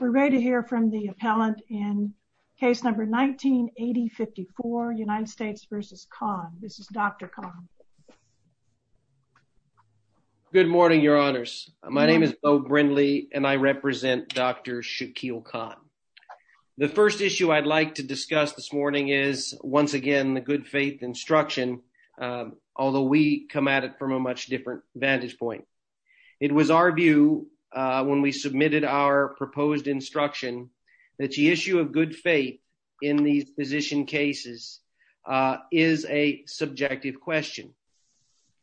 We're ready to hear from the appellant in case number 1984, United States v. Kahn. This is Dr. Kahn. Good morning, your honors. My name is Beau Brindley and I represent Dr. Shaquille Kahn. The first issue I'd like to discuss this morning is, once again, the good faith instruction, although we come at it from a much different vantage point. It was our view when we submitted our proposed instruction that the issue of good faith in these physician cases is a subjective question.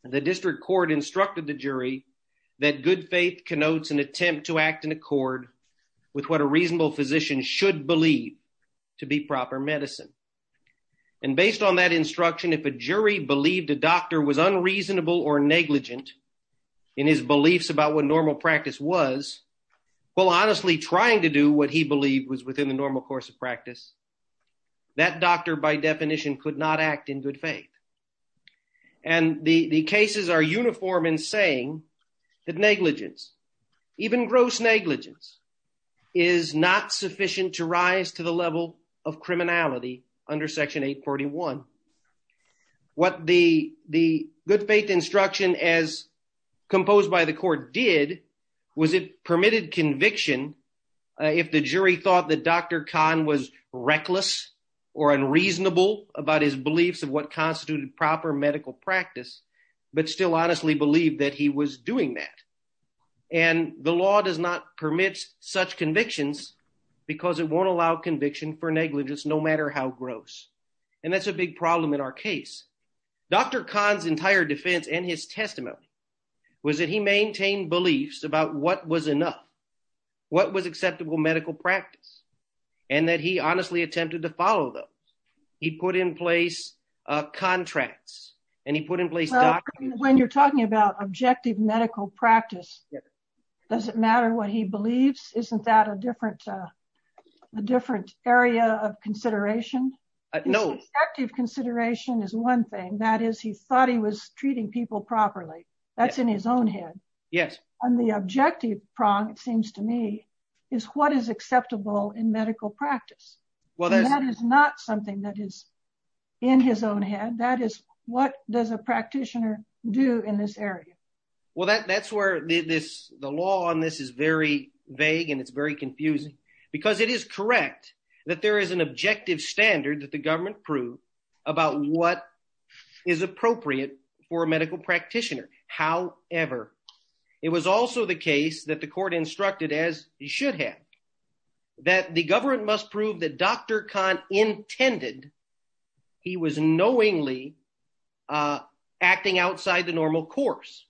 The district court instructed the jury that good faith connotes an attempt to act in accord with what a reasonable physician should believe to be proper medicine. And based on that instruction, if a jury believed a doctor was unreasonable or negligent in his beliefs about what normal practice was, while honestly trying to do what he believed was within the normal course of practice, that doctor, by definition, could not act in good faith. And the cases are uniform in saying that negligence, even gross negligence, is not sufficient to rise to the level of criminality under Section 841. What the good faith instruction, as composed by the court, did was it permitted conviction if the jury thought that Dr. Kahn was reckless or unreasonable about his beliefs of what constituted proper medical practice, but still honestly believed that he was doing that. And the law does not permit such convictions because it won't allow conviction for negligence, no matter how gross. And that's a big problem in our case. Dr. Kahn's entire defense and his testimony was that he maintained beliefs about what was enough, what was acceptable medical practice, and that he honestly attempted to follow those. He put in place contracts and he put in place documents. When you're talking about objective medical practice, does it matter what he believes? Isn't that a different area of consideration? No. Objective consideration is one thing. That is, he thought he was treating people properly. That's in his own head. Yes. And the objective prong, it seems to me, is what is acceptable in medical practice. That is not something that is in his own head. That is, what does a practitioner do in this area? Well, that's where the law on this is very vague and it's very confusing. Because it is correct that there is an objective standard that the government proved about what is appropriate for a medical practitioner. However, it was also the case that the court instructed, as you should have, that the government must prove that Dr. Kahn intended he was knowingly acting outside the normal course.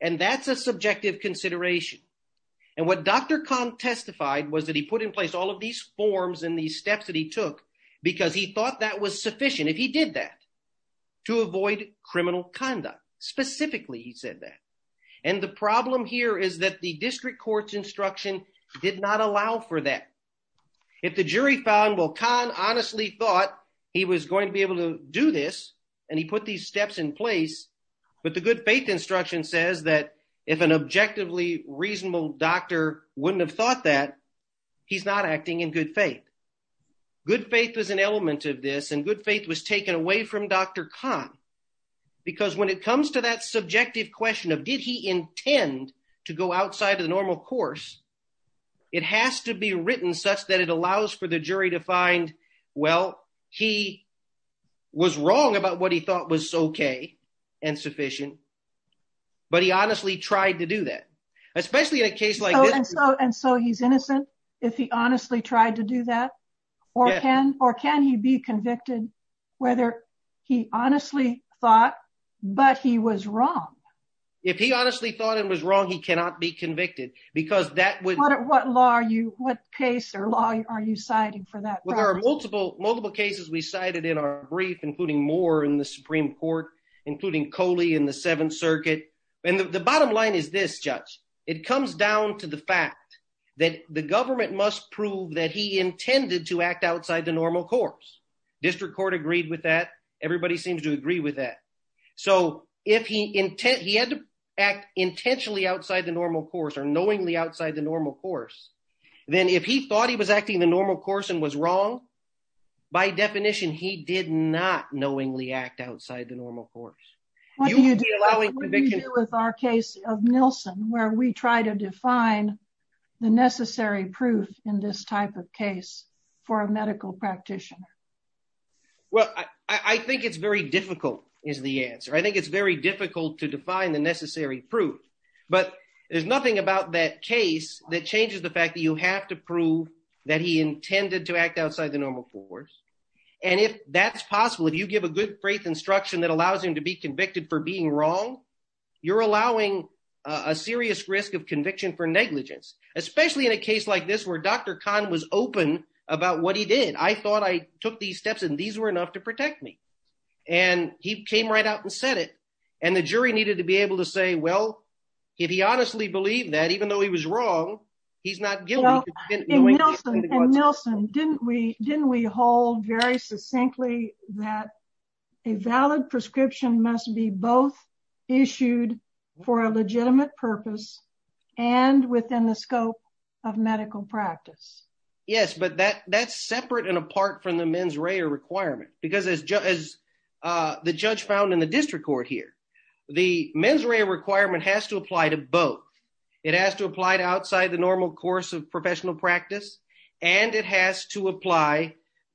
And that's a subjective consideration. And what Dr. Kahn testified was that he put in place all of these forms and these steps that he took because he thought that was sufficient, if he did that, to avoid criminal conduct. Specifically, he said that. And the problem here is that the district court's instruction did not allow for that. If the jury found, well, Kahn honestly thought he was going to be able to do this and he put these steps in place. But the good faith instruction says that if an objectively reasonable doctor wouldn't have thought that, he's not acting in good faith. Good faith is an element of this and good faith was taken away from Dr. Kahn. Because when it comes to that subjective question of did he intend to go outside of the normal course, it has to be written such that it allows for the jury to find, well, he was wrong about what he thought was okay and sufficient, but he honestly tried to do that. Especially in a case like this. And so he's innocent if he honestly tried to do that? Or can he be convicted whether he honestly thought, but he was wrong? If he honestly thought it was wrong, he cannot be convicted because that would… What law are you, what case or law are you citing for that? Well, there are multiple cases we cited in our brief, including Moore in the Supreme Court, including Coley in the Seventh Circuit. And the bottom line is this, Judge. It comes down to the fact that the government must prove that he intended to act outside the normal course. District Court agreed with that. Everybody seems to agree with that. So if he had to act intentionally outside the normal course or knowingly outside the normal course, then if he thought he was acting the normal course and was wrong, by definition, he did not knowingly act outside the normal course. What do you do with our case of Nilsson where we try to define the necessary proof in this type of case for a medical practitioner? Well, I think it's very difficult is the answer. I think it's very difficult to define the necessary proof. But there's nothing about that case that changes the fact that you have to prove that he intended to act outside the normal course. And if that's possible, if you give a good faith instruction that allows him to be convicted for being wrong, you're allowing a serious risk of conviction for negligence, especially in a case like this where Dr. Khan was open about what he did. I thought I took these steps and these were enough to protect me. And he came right out and said it. And the jury needed to be able to say, well, if he honestly believed that even though he was wrong, he's not guilty. And Nilsson, didn't we hold very succinctly that a valid prescription must be both issued for a legitimate purpose and within the scope of medical practice? Yes, but that's separate and apart from the mens rea requirement because as the judge found in the district court here, the mens rea requirement has to apply to both. It has to apply to outside the normal course of professional practice, and it has to apply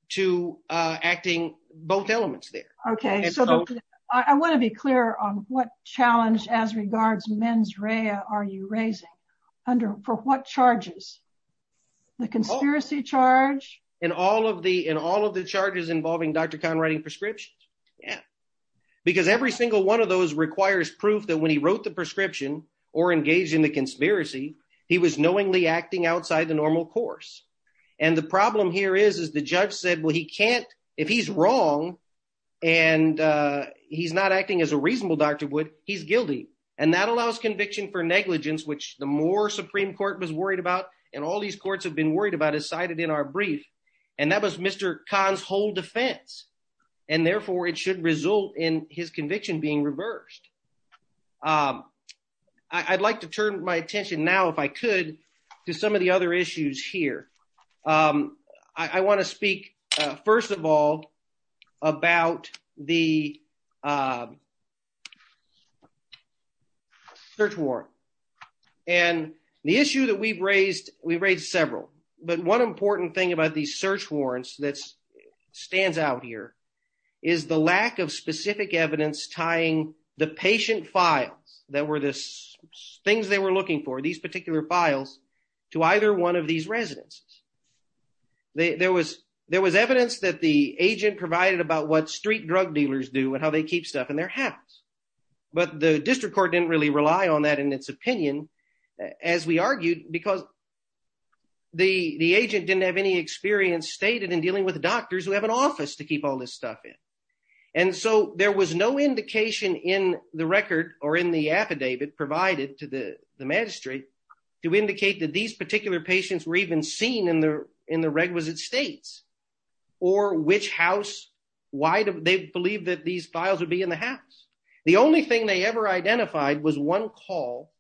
to acting both elements there. Okay, so I want to be clear on what challenge as regards mens rea are you raising for what charges? The conspiracy charge? And all of the charges involving Dr. Khan writing prescriptions. Because every single one of those requires proof that when he wrote the prescription or engaged in the conspiracy, he was knowingly acting outside the normal course. And the problem here is, is the judge said, well, he can't if he's wrong. And he's not acting as a reasonable doctor would he's guilty. And that allows conviction for negligence, which the more Supreme Court was worried about. And all these courts have been worried about is cited in our brief. And that was Mr. Khan's whole defense. And therefore, it should result in his conviction being reversed. I'd like to turn my attention now if I could do some of the other issues here. I want to speak, first of all, about the search warrant. And the issue that we've raised, we've raised several, but one important thing about these search warrants that stands out here is the lack of specific evidence tying the patient files that were this things they were looking for these particular files to either one of these residents. There was there was evidence that the agent provided about what street drug dealers do and how they keep stuff in their house. But the district court didn't really rely on that in its opinion, as we argued, because the agent didn't have any experience stated in dealing with doctors who have an office to keep all this stuff in. And so there was no indication in the record or in the affidavit provided to the magistrate to indicate that these particular patients were even seen in the in the requisite states or which house. Why do they believe that these files would be in the house? The only thing they ever identified was one call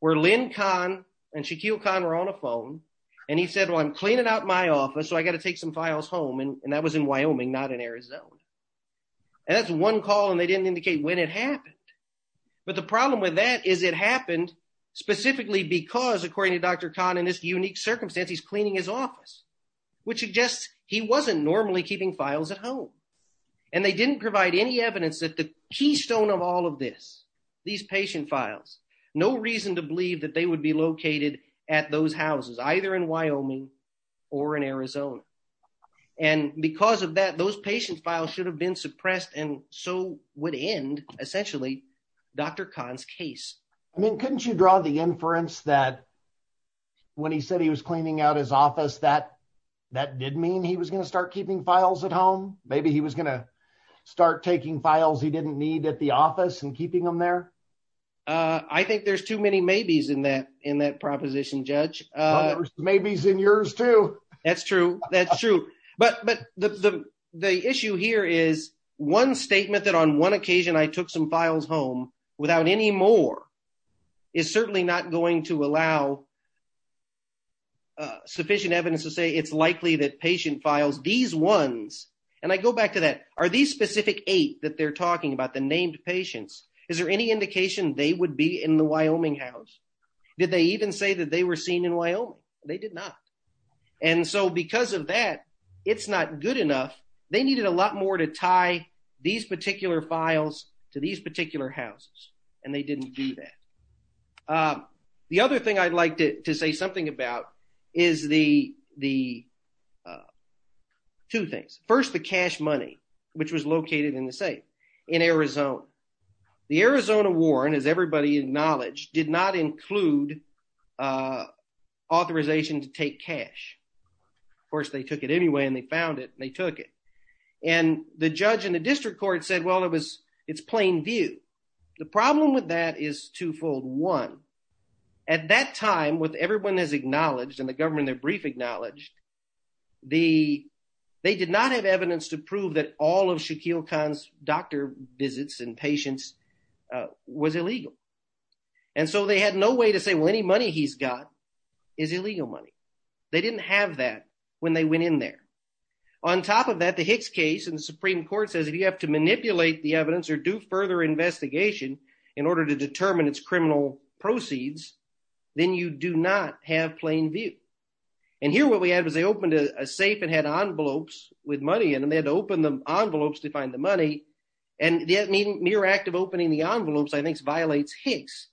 where Lin Khan and Shaquille Khan were on the phone and he said, well, I'm cleaning out my office, so I got to take some files home. And that was in Wyoming, not in Arizona. And that's one call, and they didn't indicate when it happened. But the problem with that is it happened specifically because, according to Dr. Khan, in this unique circumstance, he's cleaning his office, which suggests he wasn't normally keeping files at home. And they didn't provide any evidence that the keystone of all of this, these patient files, no reason to believe that they would be located at those houses, either in Wyoming or in Arizona. And because of that, those patient files should have been suppressed and so would end, essentially, Dr. Khan's case. I mean, couldn't you draw the inference that when he said he was cleaning out his office, that that did mean he was going to start keeping files at home? Maybe he was going to start taking files he didn't need at the office and keeping them there? I think there's too many maybes in that in that proposition, Judge. There's maybes in yours, too. That's true. That's true. But the issue here is one statement that on one occasion I took some files home without any more is certainly not going to allow sufficient evidence to say it's likely that patient files, these ones, and I go back to that. Are these specific eight that they're talking about, the named patients, is there any indication they would be in the Wyoming house? Did they even say that they were seen in Wyoming? They did not. And so because of that, it's not good enough. They needed a lot more to tie these particular files to these particular houses, and they didn't do that. The other thing I'd like to say something about is the two things. First, the cash money, which was located in the safe in Arizona. The Arizona Warren, as everybody acknowledged, did not include authorization to take cash. Of course, they took it anyway and they found it and they took it. And the judge in the district court said, well, it was it's plain view. The problem with that is twofold. At that time, with everyone is acknowledged in the government, their brief acknowledged the they did not have evidence to prove that all of Shaquille Khan's doctor visits and patients was illegal. And so they had no way to say, well, any money he's got is illegal money. They didn't have that when they went in there. On top of that, the Hicks case in the Supreme Court says if you have to manipulate the evidence or do further investigation in order to determine its criminal proceeds, then you do not have plain view. And here what we had was they opened a safe and had envelopes with money in them. They had to open the envelopes to find the money. And the mere act of opening the envelopes, I think, violates Hicks,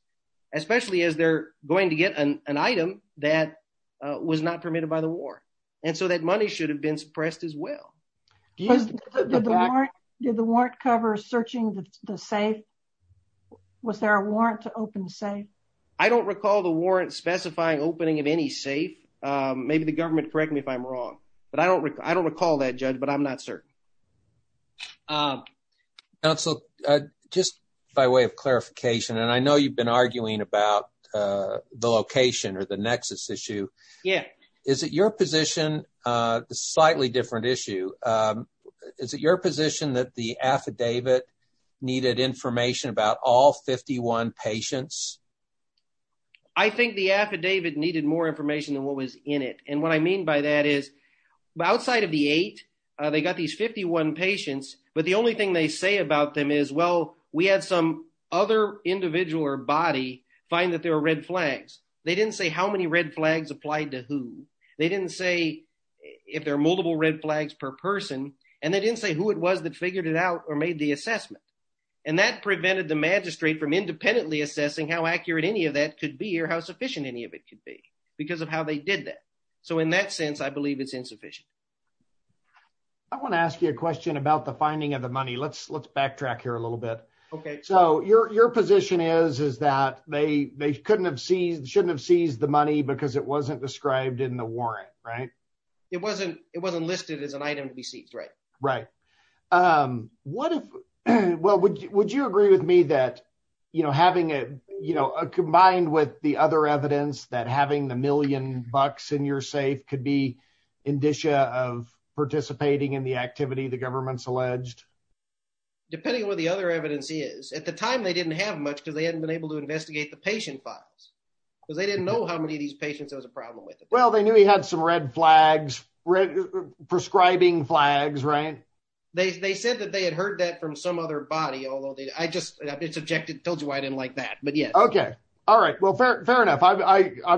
especially as they're going to get an item that was not permitted by the war. And so that money should have been suppressed as well. Yes. Did the warrant cover searching the safe? Was there a warrant to open safe? I don't recall the warrant specifying opening of any safe. Maybe the government correct me if I'm wrong, but I don't I don't recall that, Judge, but I'm not certain. So just by way of clarification, and I know you've been arguing about the location or the nexus issue. Yeah. Is it your position? Slightly different issue. Is it your position that the affidavit needed information about all 51 patients? I think the affidavit needed more information than what was in it. And what I mean by that is outside of the eight, they got these 51 patients. But the only thing they say about them is, well, we had some other individual or body find that there were red flags. They didn't say how many red flags applied to who. They didn't say if there are multiple red flags per person. And they didn't say who it was that figured it out or made the assessment. And that prevented the magistrate from independently assessing how accurate any of that could be or how sufficient any of it could be because of how they did that. So in that sense, I believe it's insufficient. I want to ask you a question about the finding of the money. Let's backtrack here a little bit. So your position is that they shouldn't have seized the money because it wasn't described in the warrant, right? It wasn't listed as an item to be seized, right. Right. Well, would you agree with me that, you know, combined with the other evidence that having the million bucks in your safe could be indicia of participating in the activity the government's alleged? Depending on what the other evidence is. At the time, they didn't have much because they hadn't been able to investigate the patient files. Because they didn't know how many of these patients there was a problem with. Well, they knew he had some red flags, red prescribing flags, right? They said that they had heard that from some other body, although I just told you I didn't like that. But yeah. Okay. All right. Well, fair enough. I'm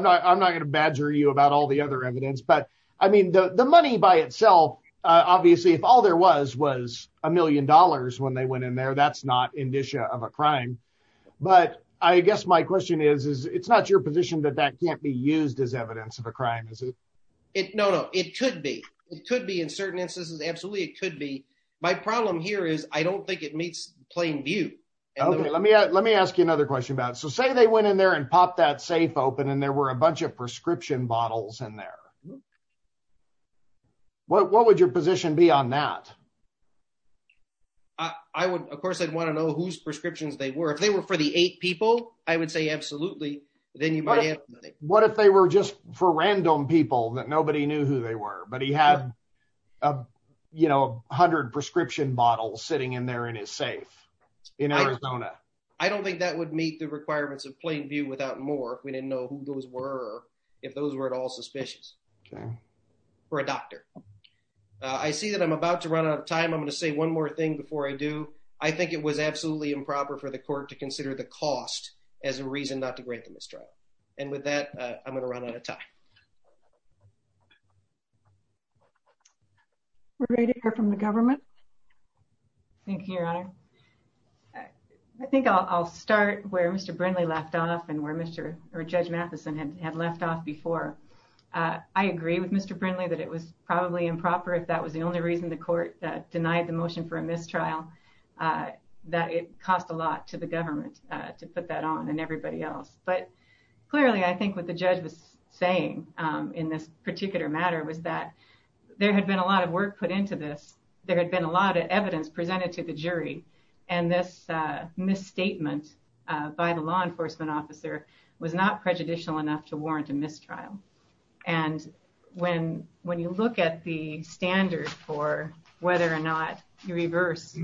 not going to badger you about all the other evidence. But I mean, the money by itself, obviously, if all there was was a million dollars when they went in there, that's not indicia of a crime. But I guess my question is, is it's not your position that that can't be used as evidence of a crime, is it? No, no, it could be. It could be in certain instances. Absolutely. It could be. My problem here is I don't think it meets plain view. Okay. Let me let me ask you another question about so say they went in there and pop that safe open and there were a bunch of prescription bottles in there. What would your position be on that? I would, of course, I'd want to know whose prescriptions they were. If they were for the eight people, I would say absolutely. Then what if they were just for random people that nobody knew who they were, but he had, you know, 100 prescription bottles sitting in there in his safe in Arizona? I don't think that would meet the requirements of plain view without more. We didn't know who those were or if those were at all suspicious. Okay. For a doctor. I see that I'm about to run out of time. I'm going to say one more thing before I do. I think it was absolutely improper for the court to consider the cost as a reason not to grant the mistrial. And with that, I'm going to run out of time. We're ready to hear from the government. Thank you, Your Honor. I think I'll start where Mr. Brindley left off and where Mr. or Judge Matheson had left off before. I agree with Mr. Brindley that it was probably improper if that was the only reason the court denied the motion for a mistrial, that it cost a lot to the government to put that on and everybody else. But clearly, I think what the judge was saying in this particular matter was that there had been a lot of work put into this. There had been a lot of evidence presented to the jury. And this misstatement by the law enforcement officer was not prejudicial enough to warrant a mistrial. And when you look at the standard for whether or not you reverse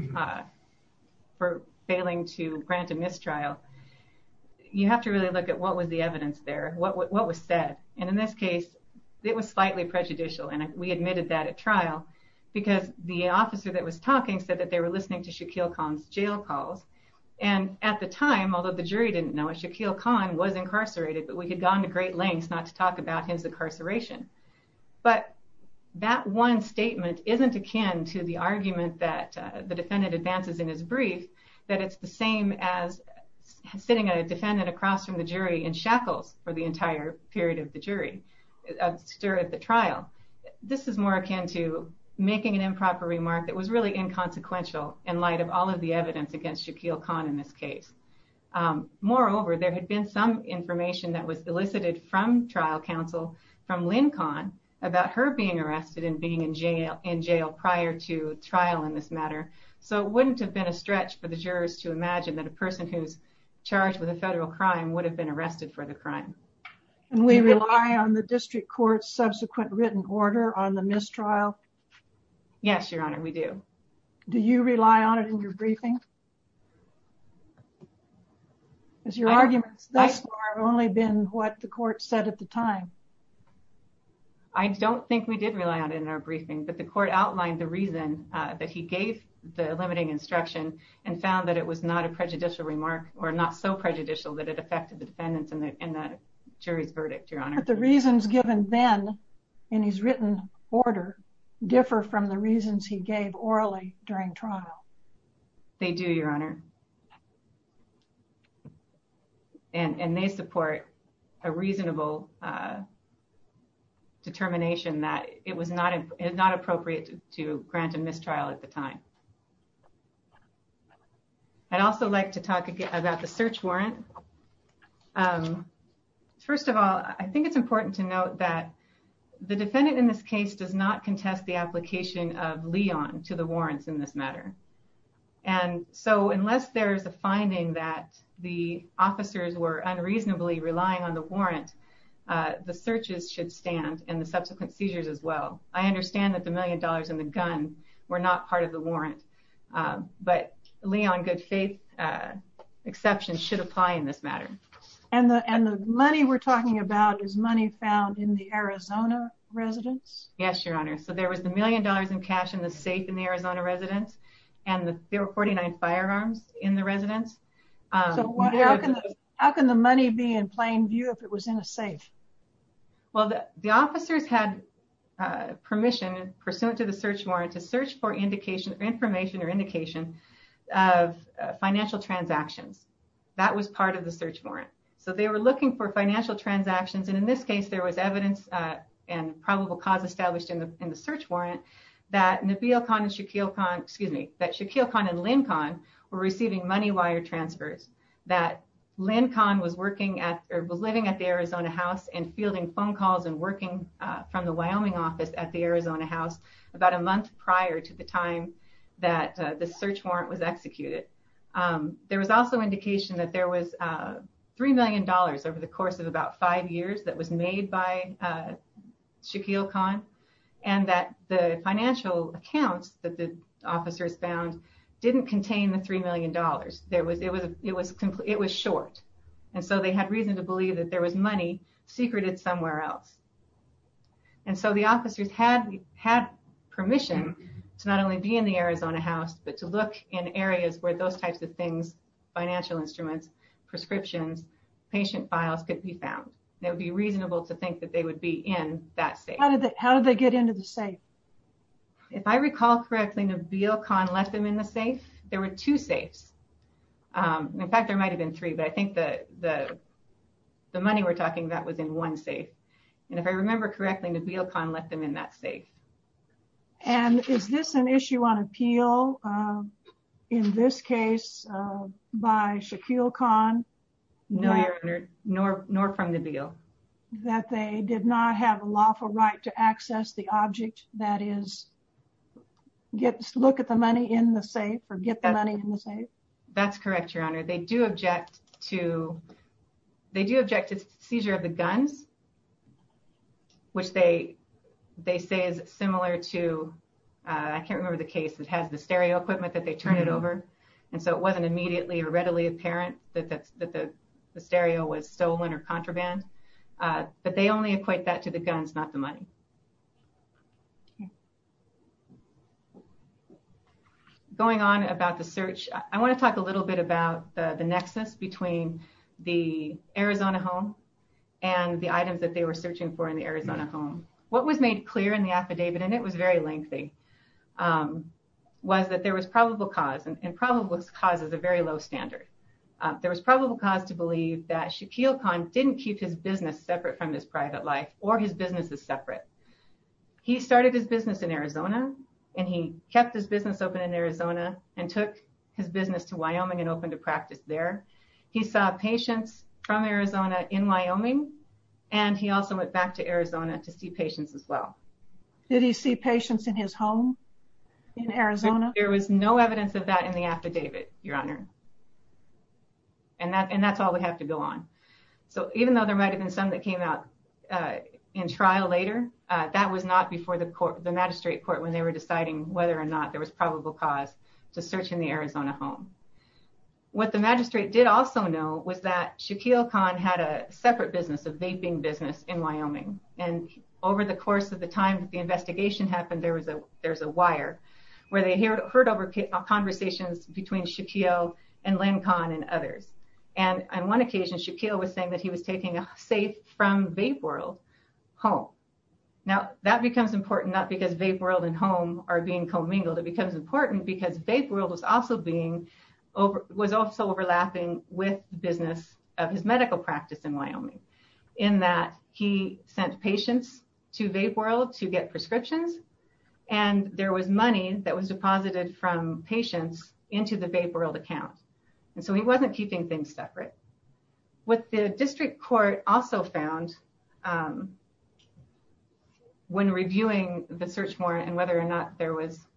for failing to grant a mistrial, you have to really look at what was the evidence there, what was said. And in this case, it was slightly prejudicial. And we admitted that at trial because the officer that was talking said that they were listening to Shaquille Khan's jail calls. And at the time, although the jury didn't know it, Shaquille Khan was incarcerated, but we had gone to great lengths not to talk about his incarceration. But that one statement isn't akin to the argument that the defendant advances in his brief, that it's the same as sitting a defendant across from the jury in shackles for the entire period of the jury, of the trial. This is more akin to making an improper remark that was really inconsequential in light of all of the evidence against Shaquille Khan in this case. Moreover, there had been some information that was elicited from trial counsel, from Lynn Khan, about her being arrested and being in jail prior to trial in this matter. So it wouldn't have been a stretch for the jurors to imagine that a person who's charged with a federal crime would have been arrested for the crime. And we rely on the district court's subsequent written order on the mistrial? Yes, Your Honor, we do. Do you rely on it in your briefing? Because your arguments thus far have only been what the court said at the time. I don't think we did rely on it in our briefing, but the court outlined the reason that he gave the limiting instruction and found that it was not a prejudicial remark or not so prejudicial that it affected the defendants in the jury's verdict, Your Honor. But the reasons given then in his written order differ from the reasons he gave orally during trial. They do, Your Honor. And they support a reasonable determination that it was not appropriate to grant a mistrial at the time. I'd also like to talk about the search warrant. First of all, I think it's important to note that the defendant in this case does not contest the application of Leon to the warrants in this matter. And so unless there is a finding that the officers were unreasonably relying on the warrant, the searches should stand and the subsequent seizures as well. I understand that the million dollars in the gun were not part of the warrant, but Leon good faith exceptions should apply in this matter. And the money we're talking about is money found in the Arizona residence? Yes, Your Honor. So there was the million dollars in cash in the safe in the Arizona residence and the 49 firearms in the residence. So how can the money be in plain view if it was in a safe? Well, the officers had permission pursuant to the search warrant to search for information or indication of financial transactions. That was part of the search warrant. So they were looking for financial transactions. And in this case, there was evidence and probable cause established in the search warrant that Nabil Khan and Shakil Khan, excuse me, that Shakil Khan and Lynn Khan were receiving money wire transfers. That Lynn Khan was working at or was living at the Arizona house and fielding phone calls and working from the Wyoming office at the Arizona house about a month prior to the time that the search warrant was executed. There was also indication that there was $3 million over the course of about five years that was made by Shakil Khan and that the financial accounts that the officers found didn't contain the $3 million. It was short. And so they had reason to believe that there was money secreted somewhere else. And so the officers had permission to not only be in the Arizona house, but to look in areas where those types of things, financial instruments, prescriptions, patient files could be found. It would be reasonable to think that they would be in that safe. How did they get into the safe? If I recall correctly, Nabil Khan left them in the safe. There were two safes. In fact, there might have been three, but I think the money we're talking about was in one safe. And if I remember correctly, Nabil Khan left them in that safe. And is this an issue on appeal in this case by Shakil Khan? No, Your Honor, nor from Nabil. That they did not have a lawful right to access the object, that is, look at the money in the safe or get the money in the safe? That's correct, Your Honor. They do object to seizure of the guns, which they say is similar to, I can't remember the case that has the stereo equipment that they turn it over. And so it wasn't immediately or readily apparent that the stereo was stolen or contraband. But they only equate that to the guns, not the money. Going on about the search, I want to talk a little bit about the nexus between the Arizona home and the items that they were searching for in the Arizona home. What was made clear in the affidavit, and it was very lengthy, was that there was probable cause, and probable cause is a very low standard. There was probable cause to believe that Shakil Khan didn't keep his business separate from his private life or his businesses separate. He started his business in Arizona, and he kept his business open in Arizona and took his business to Wyoming and opened a practice there. He saw patients from Arizona in Wyoming, and he also went back to Arizona to see patients as well. Did he see patients in his home in Arizona? There was no evidence of that in the affidavit, Your Honor. And that's all we have to go on. So even though there might have been some that came out in trial later, that was not before the magistrate court when they were deciding whether or not there was probable cause to search in the Arizona home. What the magistrate did also know was that Shakil Khan had a separate business, a vaping business in Wyoming. And over the course of the time that the investigation happened, there was a wire where they heard over conversations between Shakil and Len Khan and others. And on one occasion, Shakil was saying that he was taking a safe from VapeWorld home. Now, that becomes important, not because VapeWorld and home are being commingled. It becomes important because VapeWorld was also being, was also overlapping with the business of his medical practice in Wyoming, in that he sent patients to VapeWorld to get prescriptions. And there was money that was deposited from patients into the VapeWorld account. And so he wasn't keeping things separate. What the district court also found when reviewing the search warrant and whether or not there was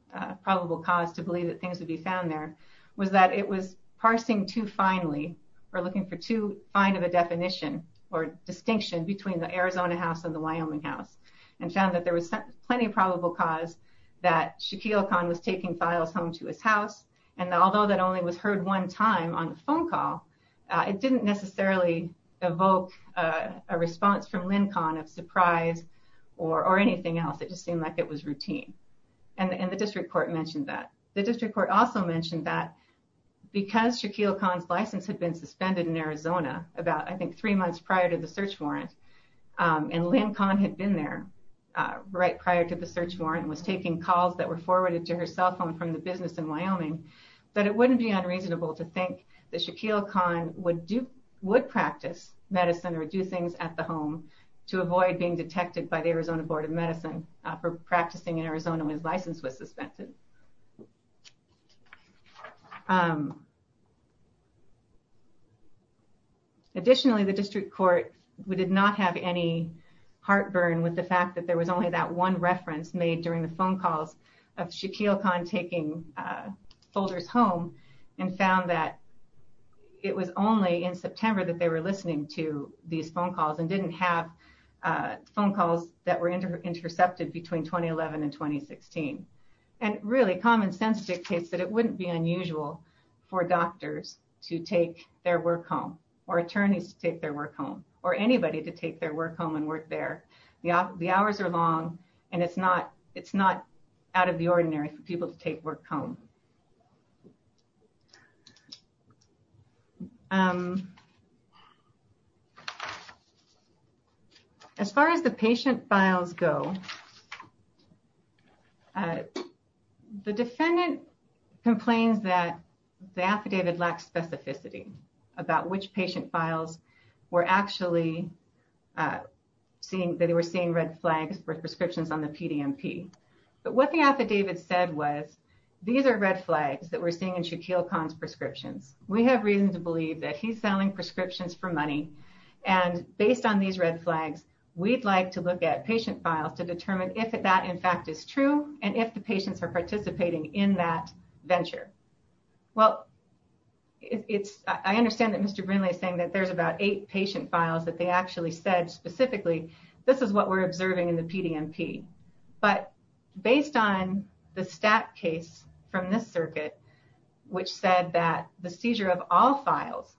probable cause to believe that things would be found there was that it was parsing too finely or looking for too fine of a definition or distinction between the Arizona house and the Wyoming house. And found that there was plenty of probable cause that Shakil Khan was taking files home to his house. And although that only was heard one time on the phone call, it didn't necessarily evoke a response from Len Khan of surprise or anything else. It just seemed like it was routine. And the district court mentioned that. The district court also mentioned that because Shakil Khan's license had been suspended in Arizona about, I think, three months prior to the search warrant. And Len Khan had been there right prior to the search warrant and was taking calls that were forwarded to her cell phone from the business in Wyoming. But it wouldn't be unreasonable to think that Shakil Khan would do, would practice medicine or do things at the home to avoid being detected by the Arizona Board of Medicine for practicing in Arizona when his license was suspended. Additionally, the district court did not have any heartburn with the fact that there was only that one reference made during the phone calls of Shakil Khan taking folders home. And found that it was only in September that they were listening to these phone calls and didn't have phone calls that were intercepted between 2011 and 2016. And really common sense dictates that it wouldn't be unusual for doctors to take their work home or attorneys to take their work home or anybody to take their work home and work there. The hours are long and it's not out of the ordinary for people to take work home. As far as the patient files go, the defendant complains that the affidavit lacks specificity about which patient files were actually seeing, that they were seeing red flags for prescriptions on the PDMP. But what the affidavit said was, these are red flags that we're seeing in Shakil Khan's prescriptions. We have reason to believe that he's selling prescriptions for money. And based on these red flags, we'd like to look at patient files to determine if that in fact is true and if the patients are participating in that venture. Well, I understand that Mr. Brinley is saying that there's about eight patient files that they actually said specifically, this is what we're observing in the PDMP. But based on the stat case from this circuit, which said that the seizure of all files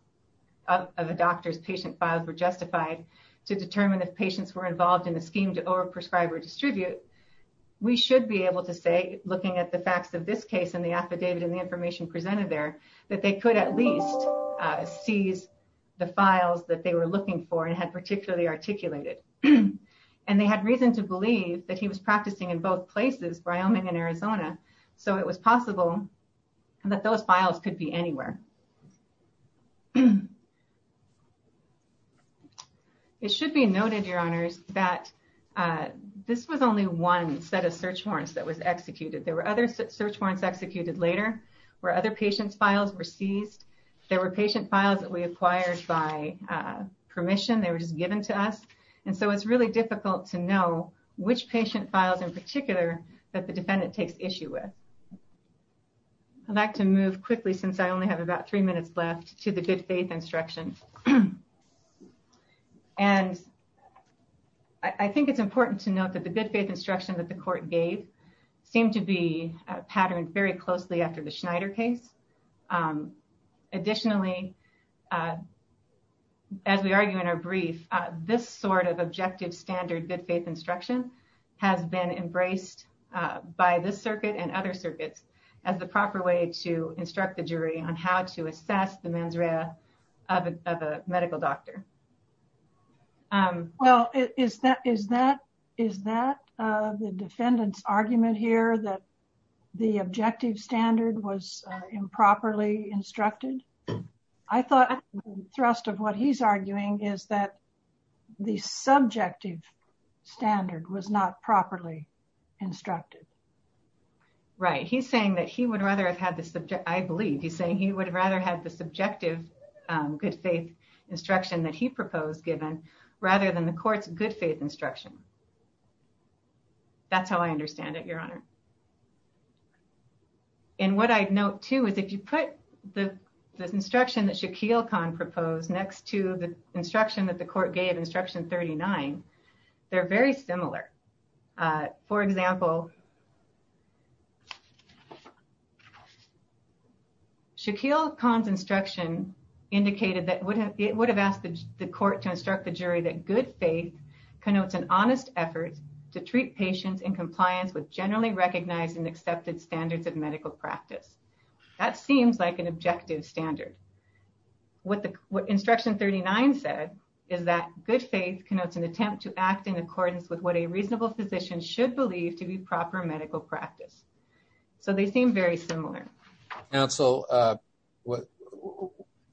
of a doctor's patient files were justified to determine if patients were involved in the scheme to over-prescribe or distribute, we should be able to say, looking at the facts of this case and the affidavit and the information presented there, that they could at least seize the files that they were looking for and had particularly articulated. And they had reason to believe that he was practicing in both places, Wyoming and Arizona, so it was possible that those files could be anywhere. It should be noted, Your Honors, that this was only one set of search warrants that was executed. There were other search warrants executed later where other patients' files were seized. There were patient files that we acquired by permission, they were just given to us. And so it's really difficult to know which patient files in particular that the defendant takes issue with. I'd like to move quickly, since I only have about three minutes left, to the good faith instruction. And I think it's important to note that the good faith instruction that the court gave seemed to be patterned very closely after the Schneider case. Additionally, as we argue in our brief, this sort of objective standard good faith instruction has been embraced by this circuit and other circuits as the proper way to instruct the jury on how to assess the mens rea of a medical doctor. Well, is that the defendant's argument here that the objective standard was improperly instructed? I thought the thrust of what he's arguing is that the subjective standard was not properly instructed. Right, he's saying that he would rather have had the subjective, I believe, he's saying he would rather have the subjective good faith instruction that he proposed given rather than the court's good faith instruction. That's how I understand it, Your Honor. And what I'd note too is if you put the instruction that Shaquille Khan proposed next to the instruction that the court gave, instruction 39, they're very similar. For example, Shaquille Khan's instruction indicated that it would have asked the court to instruct the jury that good faith connotes an honest effort to treat patients in compliance with generally recognized and accepted standards of medical practice. That seems like an objective standard. What instruction 39 said is that good faith connotes an attempt to act in accordance with what a reasonable physician should believe to be proper medical practice. So they seem very similar. Counsel,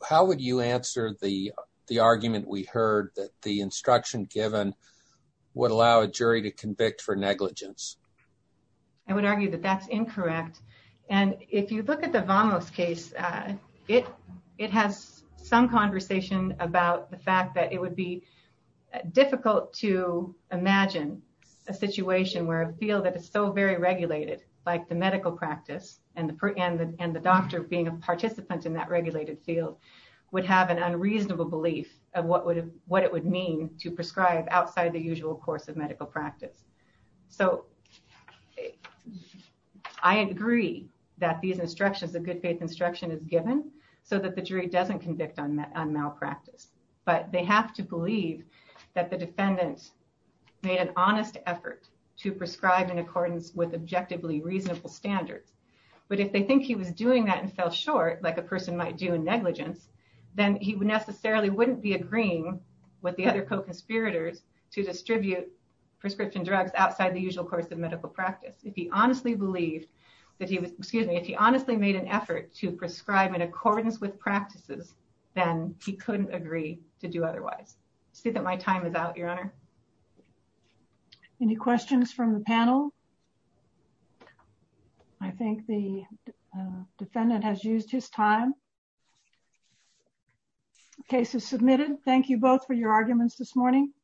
how would you answer the argument we heard that the instruction given would allow a jury to convict for negligence? I would argue that that's incorrect. And if you look at the Vamos case, it has some conversation about the fact that it would be difficult to imagine a situation where a field that is so very regulated, like the medical practice and the doctor being a participant in that regulated field, would have an unreasonable belief of what it would mean to prescribe outside the usual course of medical practice. So I agree that these instructions, the good faith instruction is given so that the jury doesn't convict on malpractice. But they have to believe that the defendant made an honest effort to prescribe in accordance with objectively reasonable standards. But if they think he was doing that and fell short, like a person might do in negligence, then he necessarily wouldn't be agreeing with the other co-conspirators to distribute prescription drugs outside the usual course of medical practice. If he honestly believed that he was, excuse me, if he honestly made an effort to prescribe in accordance with practices, then he couldn't agree to do otherwise. See that my time is out, Your Honor. Any questions from the panel? I think the defendant has used his time. Case is submitted. Thank you both for your arguments this morning.